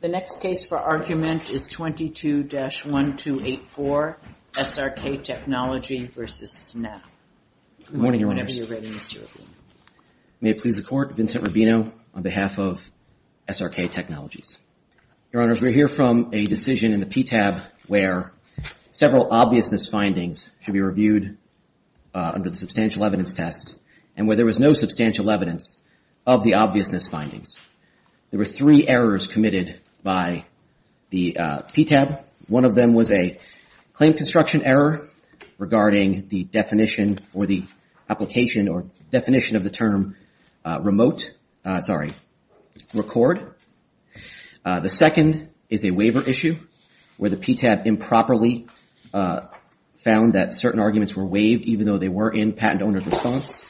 The next case for argument is 22-1284 SRK Technology v. Snap. Good morning, Your Honors. May it please the Court, Vincent Rubino on behalf of SRK Technologies. Your Honors, we're here from a decision in the PTAB where several obviousness findings should be reviewed under the substantial evidence test and where there was no substantial evidence of the obviousness findings. There were three errors committed by the PTAB. One of them was a claim construction error regarding the definition or the application or definition of the term remote, sorry, record. The second is a waiver issue where the PTAB improperly found that certain arguments were waived even though they were in patent owner's response.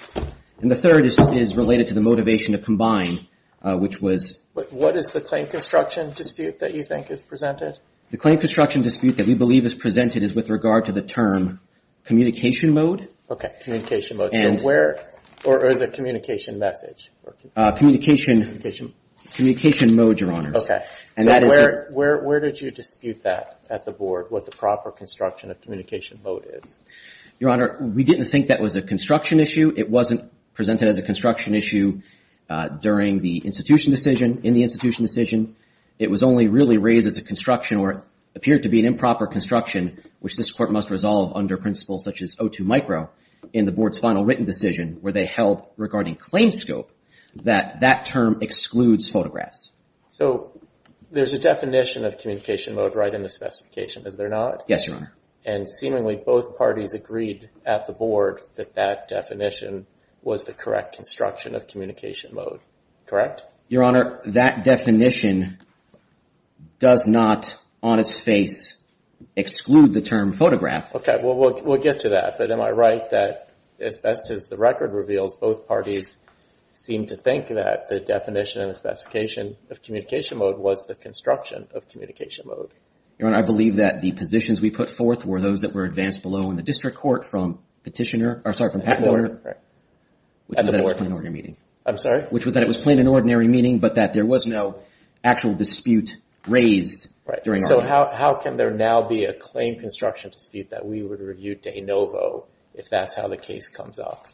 And the third is related to the motivation to combine, which was... What is the claim construction dispute that you think is presented? The claim construction dispute that we believe is presented is with regard to the term communication mode. Okay, communication mode. So where, or is it communication message? Communication mode, Your Honors. Okay, so where did you dispute that at the Board, what the proper construction of communication mode is? Your Honor, we didn't think that was a construction issue. It wasn't presented as a construction issue during the institution decision, in the institution decision. It was only really raised as a construction or appeared to be an improper construction, which this Court must resolve under principles such as O2 micro in the Board's final written decision where they held regarding claim scope that that term excludes photographs. So there's a definition of communication mode right in the specification, is there not? Yes, Your Honor. And seemingly both parties agreed at the Board that that definition was the correct construction of communication mode. Correct? Your Honor, that definition does not on its face exclude the term photograph. Okay, we'll get to that. But am I right that as best as the record reveals, both parties seem to think that the definition and the specification of communication mode was the construction of communication mode? Your Honor, I believe that the positions we put forth were those that were advanced below in the district court from petitioner, or sorry, from patent order, which was at a plain and ordinary meeting. I'm sorry? Which was that it was plain and ordinary meeting, but that there was no actual dispute raised during our meeting. So how can there now be a claim construction dispute that we would review de novo if that's how the case comes up?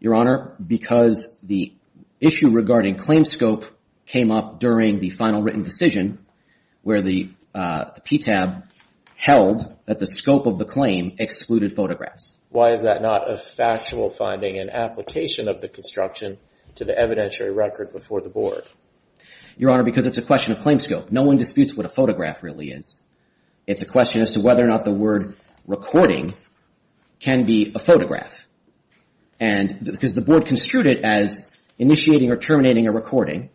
Your Honor, because the issue regarding claim scope came up during the final written decision where the PTAB held that the scope of the claim excluded photographs. Why is that not a factual finding and application of the construction to the evidentiary record before the Board? Your Honor, because it's a question of claim scope. No one disputes what a photograph really is. It's a question as to whether or not the word recording can be a photograph. And because the Board construed it as initiating or terminating a recording,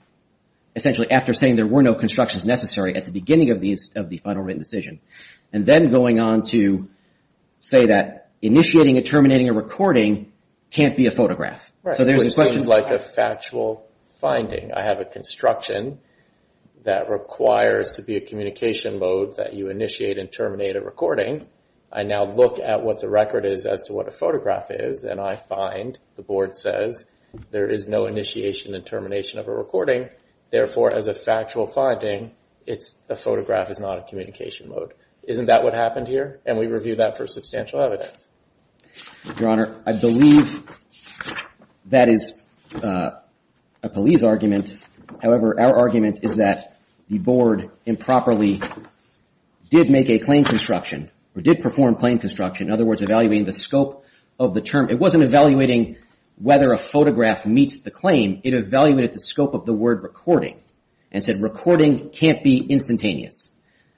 essentially after saying there were no constructions necessary at the beginning of the final written decision, and then going on to say that initiating and terminating a recording can't be a photograph. Right. So there's a question. It seems like a factual finding. I have a construction that requires to be a communication mode that you initiate and terminate a recording. I now look at what the record is as to what a photograph is, and I find, the Board says, there is no initiation and termination of a recording. Therefore, as a factual finding, a photograph is not a communication mode. Isn't that what happened here? And we review that for substantial evidence. Your Honor, I believe that is a police argument. However, our argument is that the Board improperly did make a claim construction or did perform claim construction, in other words, evaluating the scope of the term. It wasn't evaluating whether a photograph meets the claim. It evaluated the scope of the word recording and said recording can't be instantaneous.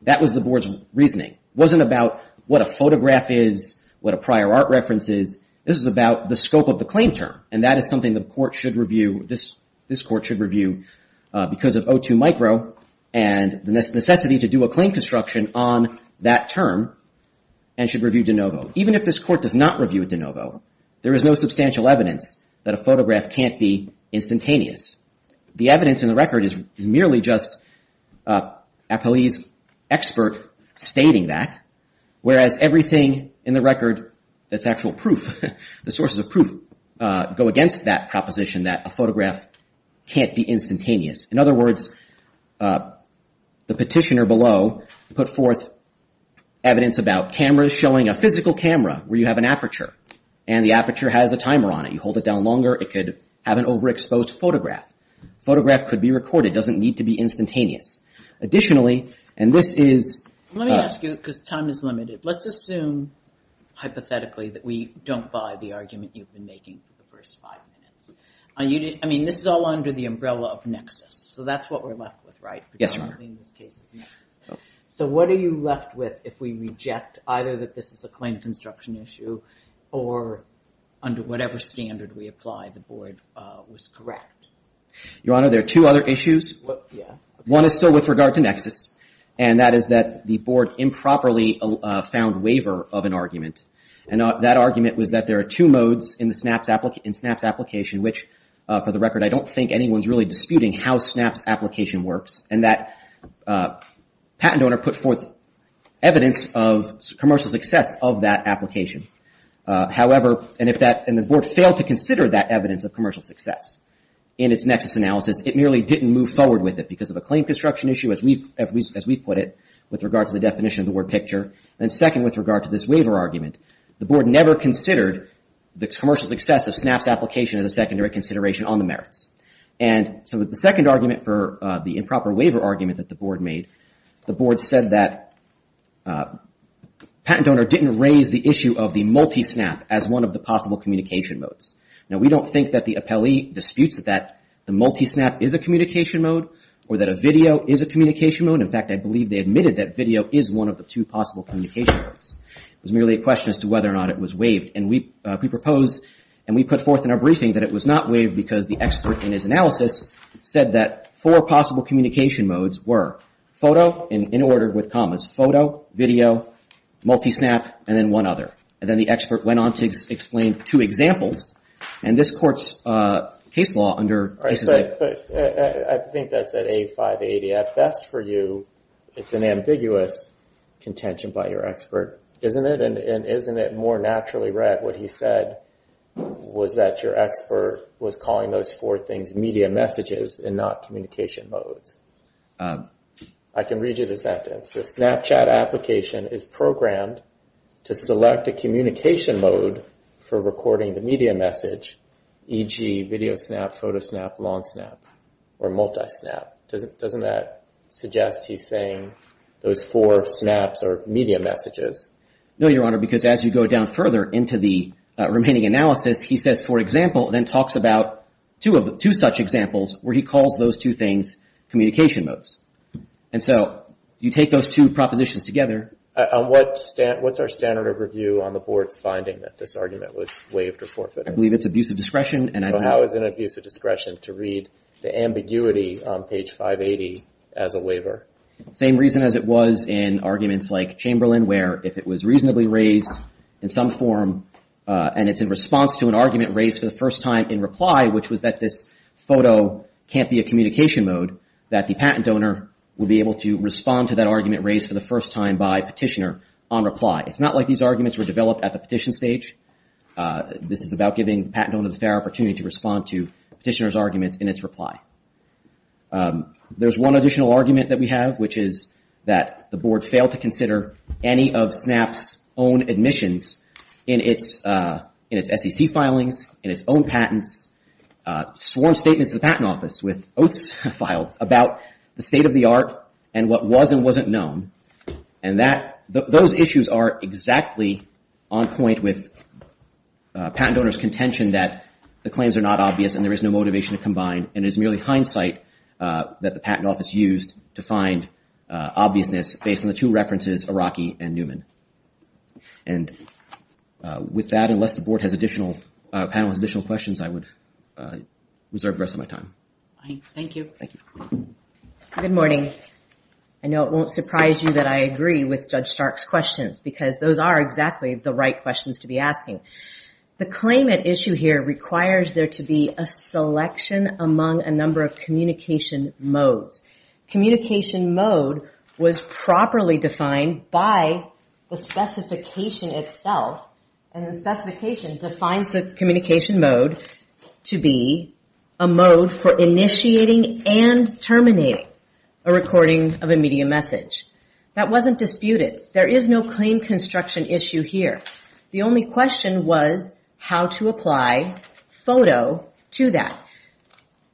That was the Board's reasoning. It wasn't about what a photograph is, what a prior art reference is. This is about the scope of the claim term, and that is something the Court should review. This Court should review because of O2 micro and the necessity to do a claim construction on that term and should review de novo. Even if this Court does not review de novo, there is no substantial evidence that a photograph can't be instantaneous. The evidence in the record is merely just a police expert stating that, whereas everything in the record that's actual proof, the sources of proof, go against that proposition that a photograph can't be instantaneous. In other words, the petitioner below put forth evidence about cameras showing a physical camera where you have an aperture, and the aperture has a timer on it. You hold it down longer, it could have an overexposed photograph. The photograph could be recorded. It doesn't need to be instantaneous. Additionally, and this is... Let me ask you, because time is limited. Let's assume, hypothetically, that we don't buy the argument you've been making for the first five minutes. I mean, this is all under the umbrella of nexus. So that's what we're left with, right? Yes, Your Honor. So what are you left with if we reject either that this is a claim construction issue or under whatever standard we apply, the Board was correct? Your Honor, there are two other issues. One is still with regard to nexus, and that is that the Board improperly found waiver of an argument. And that argument was that there are two modes in the SNAPS application, which, for the record, I don't think anyone's really disputing how SNAPS application works, and that patent owner put forth evidence of commercial success of that application. However, and if the Board failed to consider that evidence of commercial success in its nexus analysis, it merely didn't move forward with it because of a claim construction issue, as we put it, with regard to the definition of the word picture. And second, with regard to this waiver argument, the Board never considered the commercial success of SNAPS application as a secondary consideration on the merits. And so the second argument for the improper waiver argument that the Board made, the Board said that patent owner didn't raise the issue of the multi-SNAP as one of the possible communication modes. Now, we don't think that the appellee disputes that the multi-SNAP is a communication mode or that a video is a communication mode. In fact, I believe they admitted that video is one of the two possible communication modes. It was merely a question as to whether or not it was waived. And we proposed and we put forth in our briefing that it was not waived because the expert in his analysis said that four possible communication modes were photo, in order with commas, photo, video, multi-SNAP, and then one other. And then the expert went on to explain two examples. And this Court's case law under… I think that's at A580. At best for you, it's an ambiguous contention by your expert, isn't it? And isn't it more naturally read what he said was that your expert was calling those four things media messages and not communication modes? I can read you the sentence. The SNAPS application is programmed to select a communication mode for recording the media message, e.g., video SNAP, photo SNAP, long SNAP, or multi-SNAP. Doesn't that suggest he's saying those four SNAPs are media messages? No, Your Honor, because as you go down further into the remaining analysis, he says, for example, and then talks about two such examples where he calls those two things communication modes. And so you take those two propositions together. What's our standard of review on the Board's finding that this argument was waived or forfeited? I believe it's abuse of discretion. So how is it abuse of discretion to read the ambiguity on page 580 as a waiver? Same reason as it was in arguments like Chamberlain where if it was reasonably raised in some form and it's in response to an argument raised for the first time in reply, which was that this photo can't be a communication mode, that the patent donor would be able to respond to that argument raised for the first time by petitioner on reply. It's not like these arguments were developed at the petition stage. This is about giving the patent donor the fair opportunity to respond to petitioner's arguments in its reply. There's one additional argument that we have, which is that the Board failed to consider any of SNAP's own admissions in its SEC filings, in its own patents, sworn statements to the Patent Office with oaths filed about the state of the art and what was and wasn't known. And those issues are exactly on point with patent donors' contention that the claims are not obvious and there is no motivation to combine, and it is merely hindsight that the Patent Office used to find obviousness based on the two references, Araki and Newman. And with that, unless the panel has additional questions, I would reserve the rest of my time. Thank you. Good morning. I know it won't surprise you that I agree with Judge Stark's questions because those are exactly the right questions to be asking. The claimant issue here requires there to be a selection among a number of communication modes. Communication mode was properly defined by the specification itself, and the specification defines the communication mode to be a mode for initiating and terminating a recording of a media message. That wasn't disputed. There is no claim construction issue here. The only question was how to apply photo to that.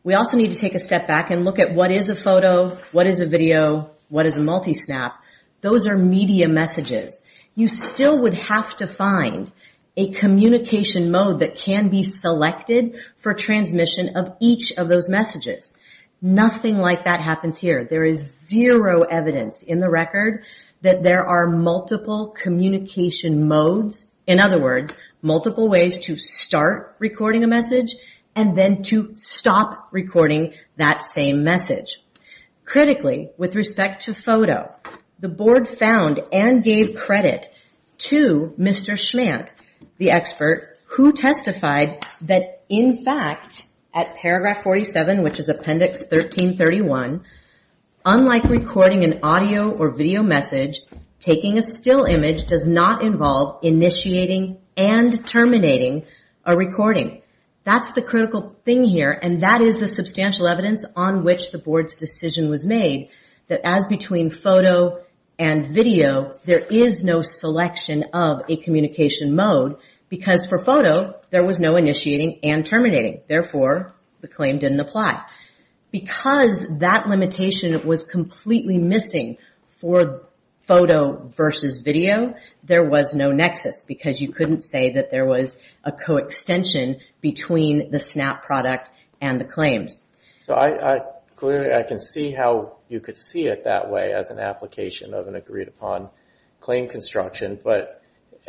We also need to take a step back and look at what is a photo, what is a video, what is a multisnap. Those are media messages. You still would have to find a communication mode that can be selected for transmission of each of those messages. Nothing like that happens here. There is zero evidence in the record that there are multiple communication modes, in other words, multiple ways to start recording a message and then to stop recording that same message. Critically, with respect to photo, the Board found and gave credit to Mr. Schmant, the expert, who testified that, in fact, at paragraph 47, which is appendix 1331, unlike recording an audio or video message, taking a still image does not involve initiating and terminating a recording. That's the critical thing here, and that is the substantial evidence on which the Board's decision was made, that as between photo and video, there is no selection of a communication mode because, for photo, there was no initiating and terminating. Therefore, the claim didn't apply. Because that limitation was completely missing for photo versus video, there was no nexus because you couldn't say that there was a coextension between the snap product and the claims. Clearly, I can see how you could see it that way as an application of an agreed-upon claim construction, but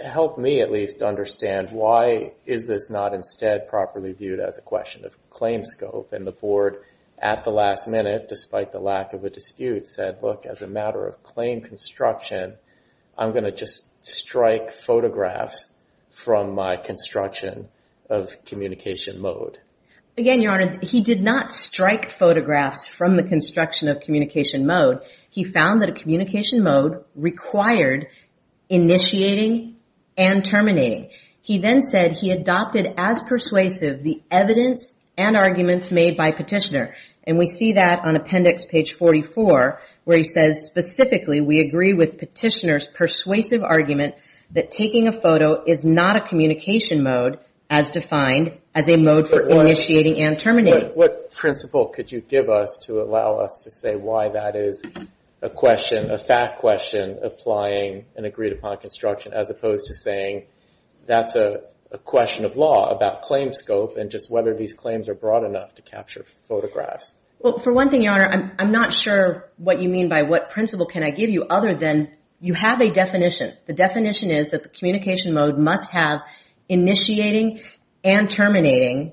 help me at least understand why is this not instead properly viewed as a question of claim scope? And the Board, at the last minute, despite the lack of a dispute, said, look, as a matter of claim construction, I'm going to just strike photographs from my construction of communication mode. Again, Your Honor, he did not strike photographs from the construction of communication mode. He found that a communication mode required initiating and terminating. He then said he adopted as persuasive the evidence and arguments made by Petitioner. And we see that on Appendix page 44, where he says, specifically, we agree with Petitioner's persuasive argument that taking a photo is not a communication mode as defined as a mode for initiating and terminating. What principle could you give us to allow us to say why that is a question, a fact question, applying an agreed-upon construction as opposed to saying that's a question of law about claim scope and just whether these claims are broad enough to capture photographs? Well, for one thing, Your Honor, I'm not sure what you mean by what principle can I give you other than you have a definition. The definition is that the communication mode must have initiating and terminating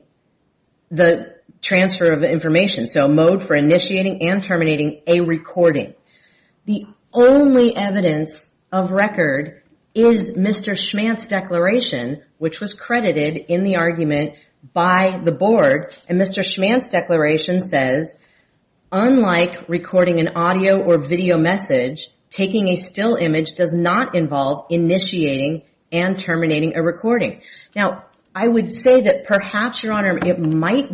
the transfer of information, so a mode for initiating and terminating a recording. The only evidence of record is Mr. Schmantz's declaration, which was credited in the argument by the Board, and Mr. Schmantz's declaration says, unlike recording an audio or video message, taking a still image does not involve initiating and terminating a recording. Now, I would say that perhaps, Your Honor, we might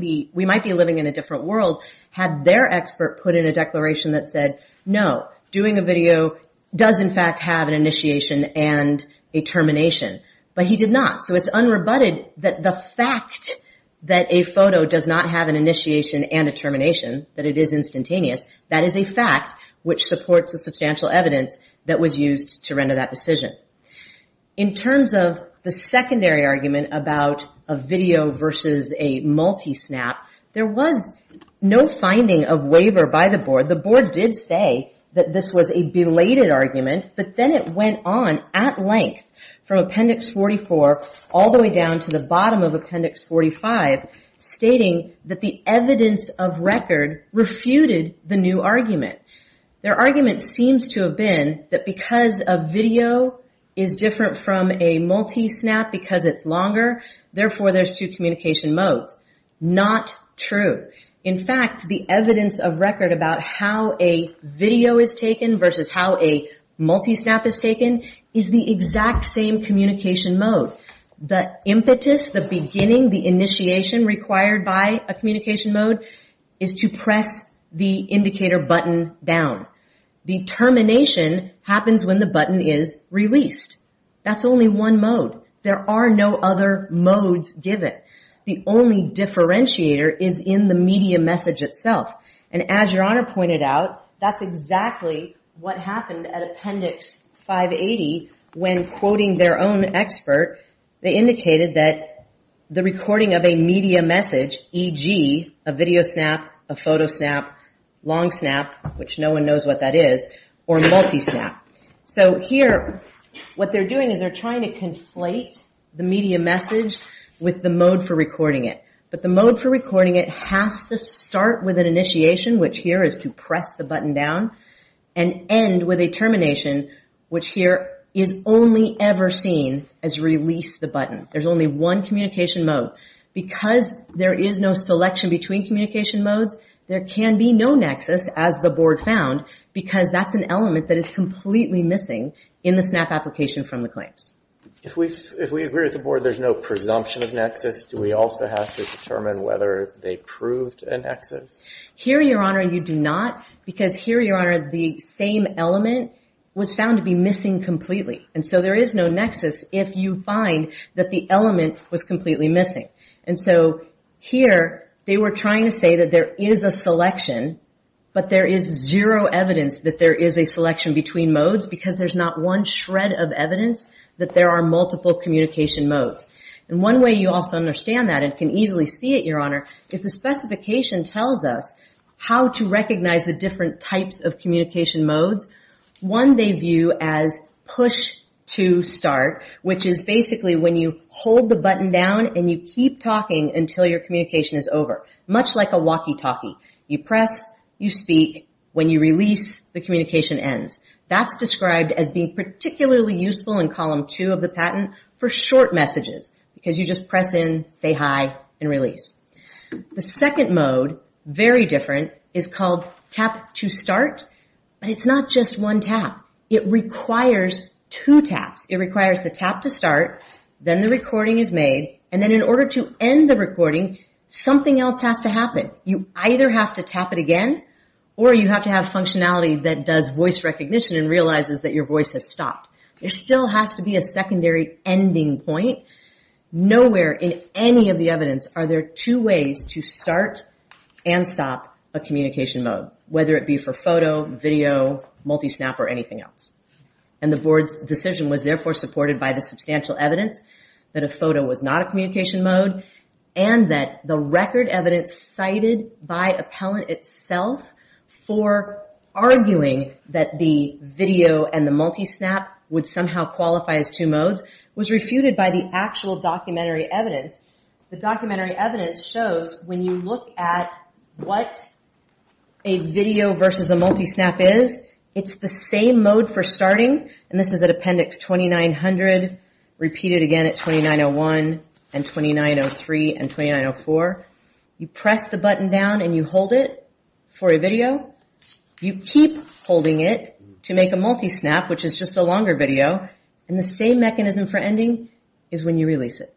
be living in a different world had their expert put in a declaration that said, no, doing a video does in fact have an initiation and a termination, but he did not. So it's unrebutted that the fact that a photo does not have an initiation and a termination, that it is instantaneous, that is a fact which supports the substantial evidence that was used to render that decision. In terms of the secondary argument about a video versus a multi-snap, there was no finding of waiver by the Board. The Board did say that this was a belated argument, but then it went on at length from Appendix 44 all the way down to the bottom of Appendix 45, stating that the evidence of record refuted the new argument. Their argument seems to have been that because a video is different from a multi-snap because it's longer, therefore there's two communication modes. Not true. In fact, the evidence of record about how a video is taken versus how a multi-snap is taken is the exact same communication mode. The impetus, the beginning, the initiation required by a communication mode is to press the indicator button down. The termination happens when the button is released. That's only one mode. There are no other modes given. The only differentiator is in the media message itself. And as Your Honor pointed out, that's exactly what happened at Appendix 580. When quoting their own expert, they indicated that the recording of a media message, e.g., a video snap, a photo snap, long snap, which no one knows what that is, or multi-snap. So here what they're doing is they're trying to conflate the media message with the mode for recording it. But the mode for recording it has to start with an initiation, which here is to press the button down, and end with a termination, which here is only ever seen as release the button. There's only one communication mode. Because there is no selection between communication modes, there can be no nexus, as the Board found, because that's an element that is completely missing in the snap application from the claims. If we agree with the Board there's no presumption of nexus, do we also have to determine whether they proved a nexus? Here, Your Honor, you do not, because here, Your Honor, the same element was found to be missing completely. And so there is no nexus if you find that the element was completely missing. And so here they were trying to say that there is a selection, but there is zero evidence that there is a selection between modes, because there's not one shred of evidence that there are multiple communication modes. And one way you also understand that, and can easily see it, Your Honor, is the specification tells us how to recognize the different types of communication modes. One they view as push to start, which is basically when you hold the button down and you keep talking until your communication is over, much like a walkie-talkie. You press, you speak, when you release, the communication ends. That's described as being particularly useful in column two of the patent for short messages, because you just press in, say hi, and release. The second mode, very different, is called tap to start, but it's not just one tap. It requires two taps. It requires the tap to start, then the recording is made, and then in order to end the recording, something else has to happen. You either have to tap it again, or you have to have functionality that does voice recognition and realizes that your voice has stopped. There still has to be a secondary ending point. Nowhere in any of the evidence are there two ways to start and stop a communication mode, whether it be for photo, video, multi-snap, or anything else. The board's decision was therefore supported by the substantial evidence that a photo was not a communication mode, and that the record evidence cited by appellant itself for arguing that the video and the multi-snap would somehow qualify as two modes was refuted by the actual documentary evidence. The documentary evidence shows when you look at what a video versus a multi-snap is, it's the same mode for starting, and this is at appendix 2900, repeated again at 2901 and 2903 and 2904. You press the button down and you hold it for a video. You keep holding it to make a multi-snap, which is just a longer video, and the same mechanism for ending is when you release it.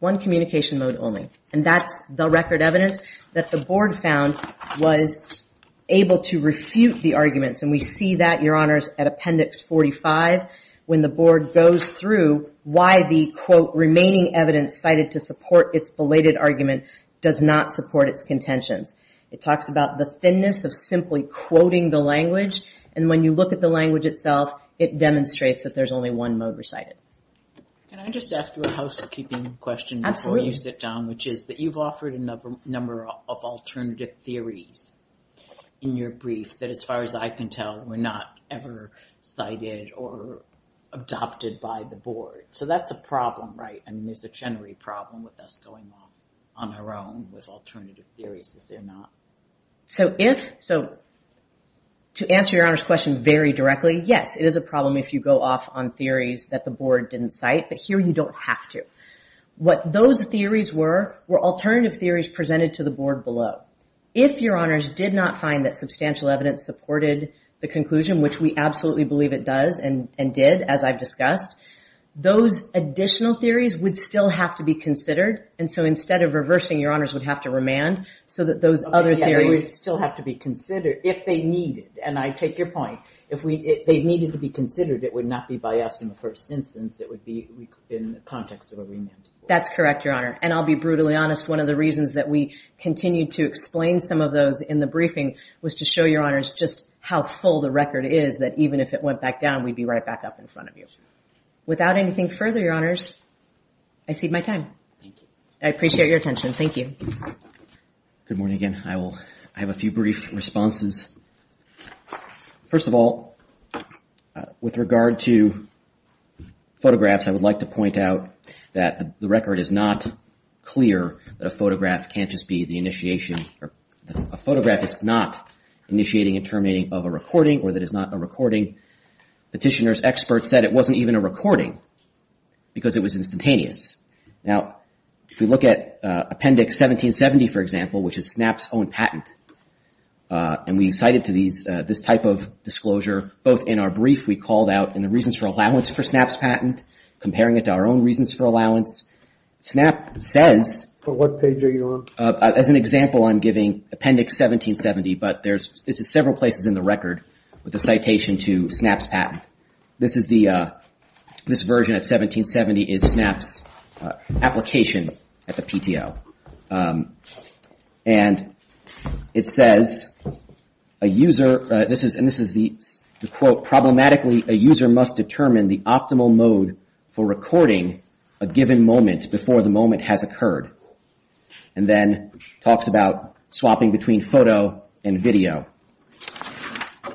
One communication mode only. And that's the record evidence that the board found was able to refute the arguments, and we see that, Your Honors, at appendix 45, when the board goes through why the, quote, remaining evidence cited to support its belated argument does not support its contentions. It talks about the thinness of simply quoting the language, and when you look at the language itself, it demonstrates that there's only one mode recited. Can I just ask you a housekeeping question before you sit down, which is that you've offered a number of alternative theories in your brief that, as far as I can tell, were not ever cited or adopted by the board. So that's a problem, right? I mean, there's a Chenery problem with us going off on our own with alternative theories, is there not? So to answer Your Honors' question very directly, yes, it is a problem if you go off on theories that the board didn't cite, but here you don't have to. What those theories were were alternative theories presented to the board below. If Your Honors did not find that substantial evidence supported the conclusion, which we absolutely believe it does and did, as I've discussed, those additional theories would still have to be considered, They would still have to be considered if they needed, and I take your point. If they needed to be considered, it would not be by us in the first instance. It would be in the context of a remand. That's correct, Your Honor, and I'll be brutally honest. One of the reasons that we continued to explain some of those in the briefing was to show Your Honors just how full the record is that even if it went back down, we'd be right back up in front of you. Without anything further, Your Honors, I cede my time. I appreciate your attention. Thank you. Good morning again. I have a few brief responses. First of all, with regard to photographs, I would like to point out that the record is not clear that a photograph can't just be the initiation. A photograph is not initiating and terminating of a recording or that it's not a recording. Petitioner's experts said it wasn't even a recording because it was instantaneous. Now, if we look at Appendix 1770, for example, which is SNAP's own patent, and we cited this type of disclosure both in our brief we called out and the reasons for allowance for SNAP's patent, comparing it to our own reasons for allowance. SNAP says... What page are you on? As an example, I'm giving Appendix 1770, This is the... This version at 1770 is SNAP's application at the PTO. And it says, A user... And this is the quote, Problematically, a user must determine the optimal mode for recording a given moment before the moment has occurred. And then talks about swapping between photo and video.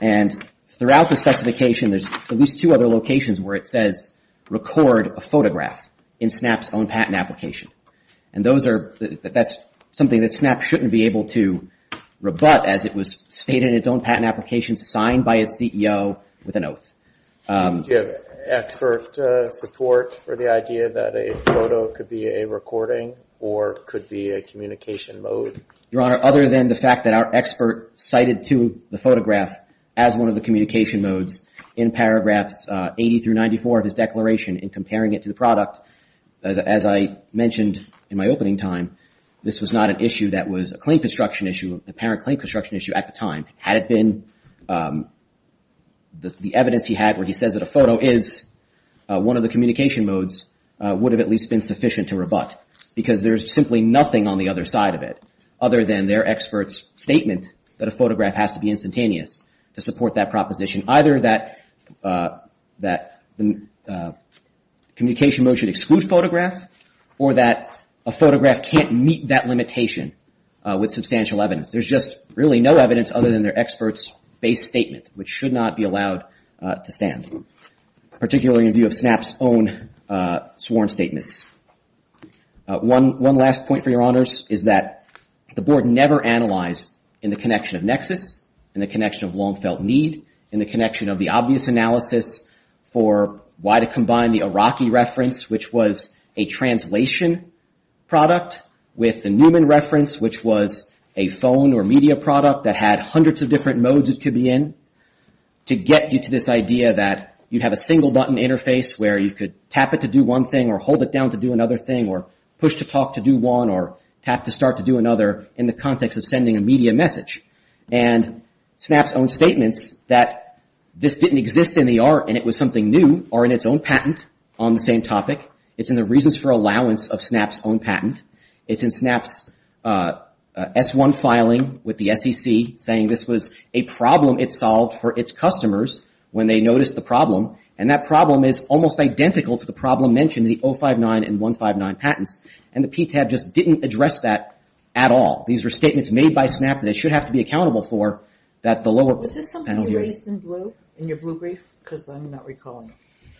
And throughout the specification, there's at least two other locations where it says record a photograph in SNAP's own patent application. And those are... That's something that SNAP shouldn't be able to rebut as it was stated in its own patent application, signed by its CEO with an oath. Do you have expert support for the idea that a photo could be a recording or could be a communication mode? Your Honor, other than the fact that our expert cited to the photograph as one of the communication modes in paragraphs 80 through 94 of his declaration in comparing it to the product, as I mentioned in my opening time, this was not an issue that was a claim construction issue, an apparent claim construction issue at the time. Had it been the evidence he had where he says that a photo is one of the communication modes, would have at least been sufficient to rebut. Because there's simply nothing on the other side of it other than their expert's statement that a photograph has to be instantaneous to support that proposition. Either that the communication mode should exclude photographs or that a photograph can't meet that limitation with substantial evidence. There's just really no evidence other than their expert's base statement, which should not be allowed to stand. Particularly in view of SNAP's own sworn statements. One last point for Your Honors, is that the Board never analyzed in the connection of Nexus, in the connection of Long Felt Need, in the connection of the obvious analysis for why to combine the Iraqi reference, which was a translation product, with the Newman reference, which was a phone or media product that had hundreds of different modes it could be in, to get you to this idea that you have a single button interface where you could tap it to do one thing or hold it down to do another thing or push to talk to do one or tap to start to do another in the context of sending a media message. And SNAP's own statements that this didn't exist in the art and it was something new are in its own patent on the same topic. It's in the reasons for allowance of SNAP's own patent. It's in SNAP's S1 filing with the SEC saying this was a problem it solved for its customers when they noticed the problem. And that problem is almost identical to the problem mentioned in the 059 and 159 patents. And the PTAB just didn't address that at all. These were statements made by SNAP that they should have to be accountable for that the lower panel here... Was this something you raised in blue in your blue brief? Because I'm not recalling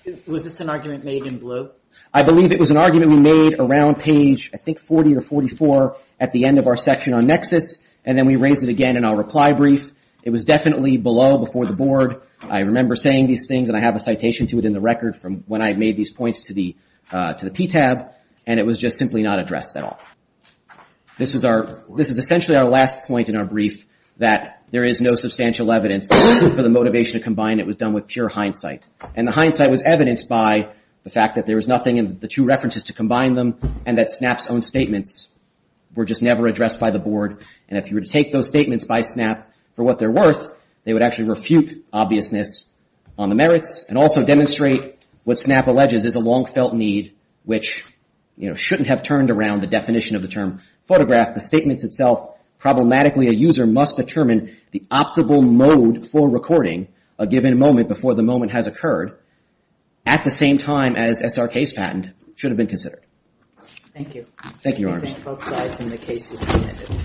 it. Was this an argument made in blue? I believe it was an argument we made around page, I think, 40 or 44 at the end of our section on Nexus. And then we raised it again in our reply brief. It was definitely below before the board. I remember saying these things and I have a citation to it in the record from when I made these points to the PTAB. And it was just simply not addressed at all. This is essentially our last point in our brief that there is no substantial evidence for the motivation to combine. It was done with pure hindsight. And the hindsight was evidenced by the fact that there was nothing in the two references to combine them and that SNAP's own statements were just never addressed by the board. And if you were to take those statements by SNAP for what they're worth, they would actually refute obviousness on the merits and also demonstrate what SNAP alleges is a long-felt need which shouldn't have turned around the definition of the term photograph. The statements itself, problematically a user must determine the optimal mode for recording a given moment before the moment has occurred at the same time as SRK's patent should have been considered. Thank you. Thank you, Your Honor. I think both sides in the case have seen it.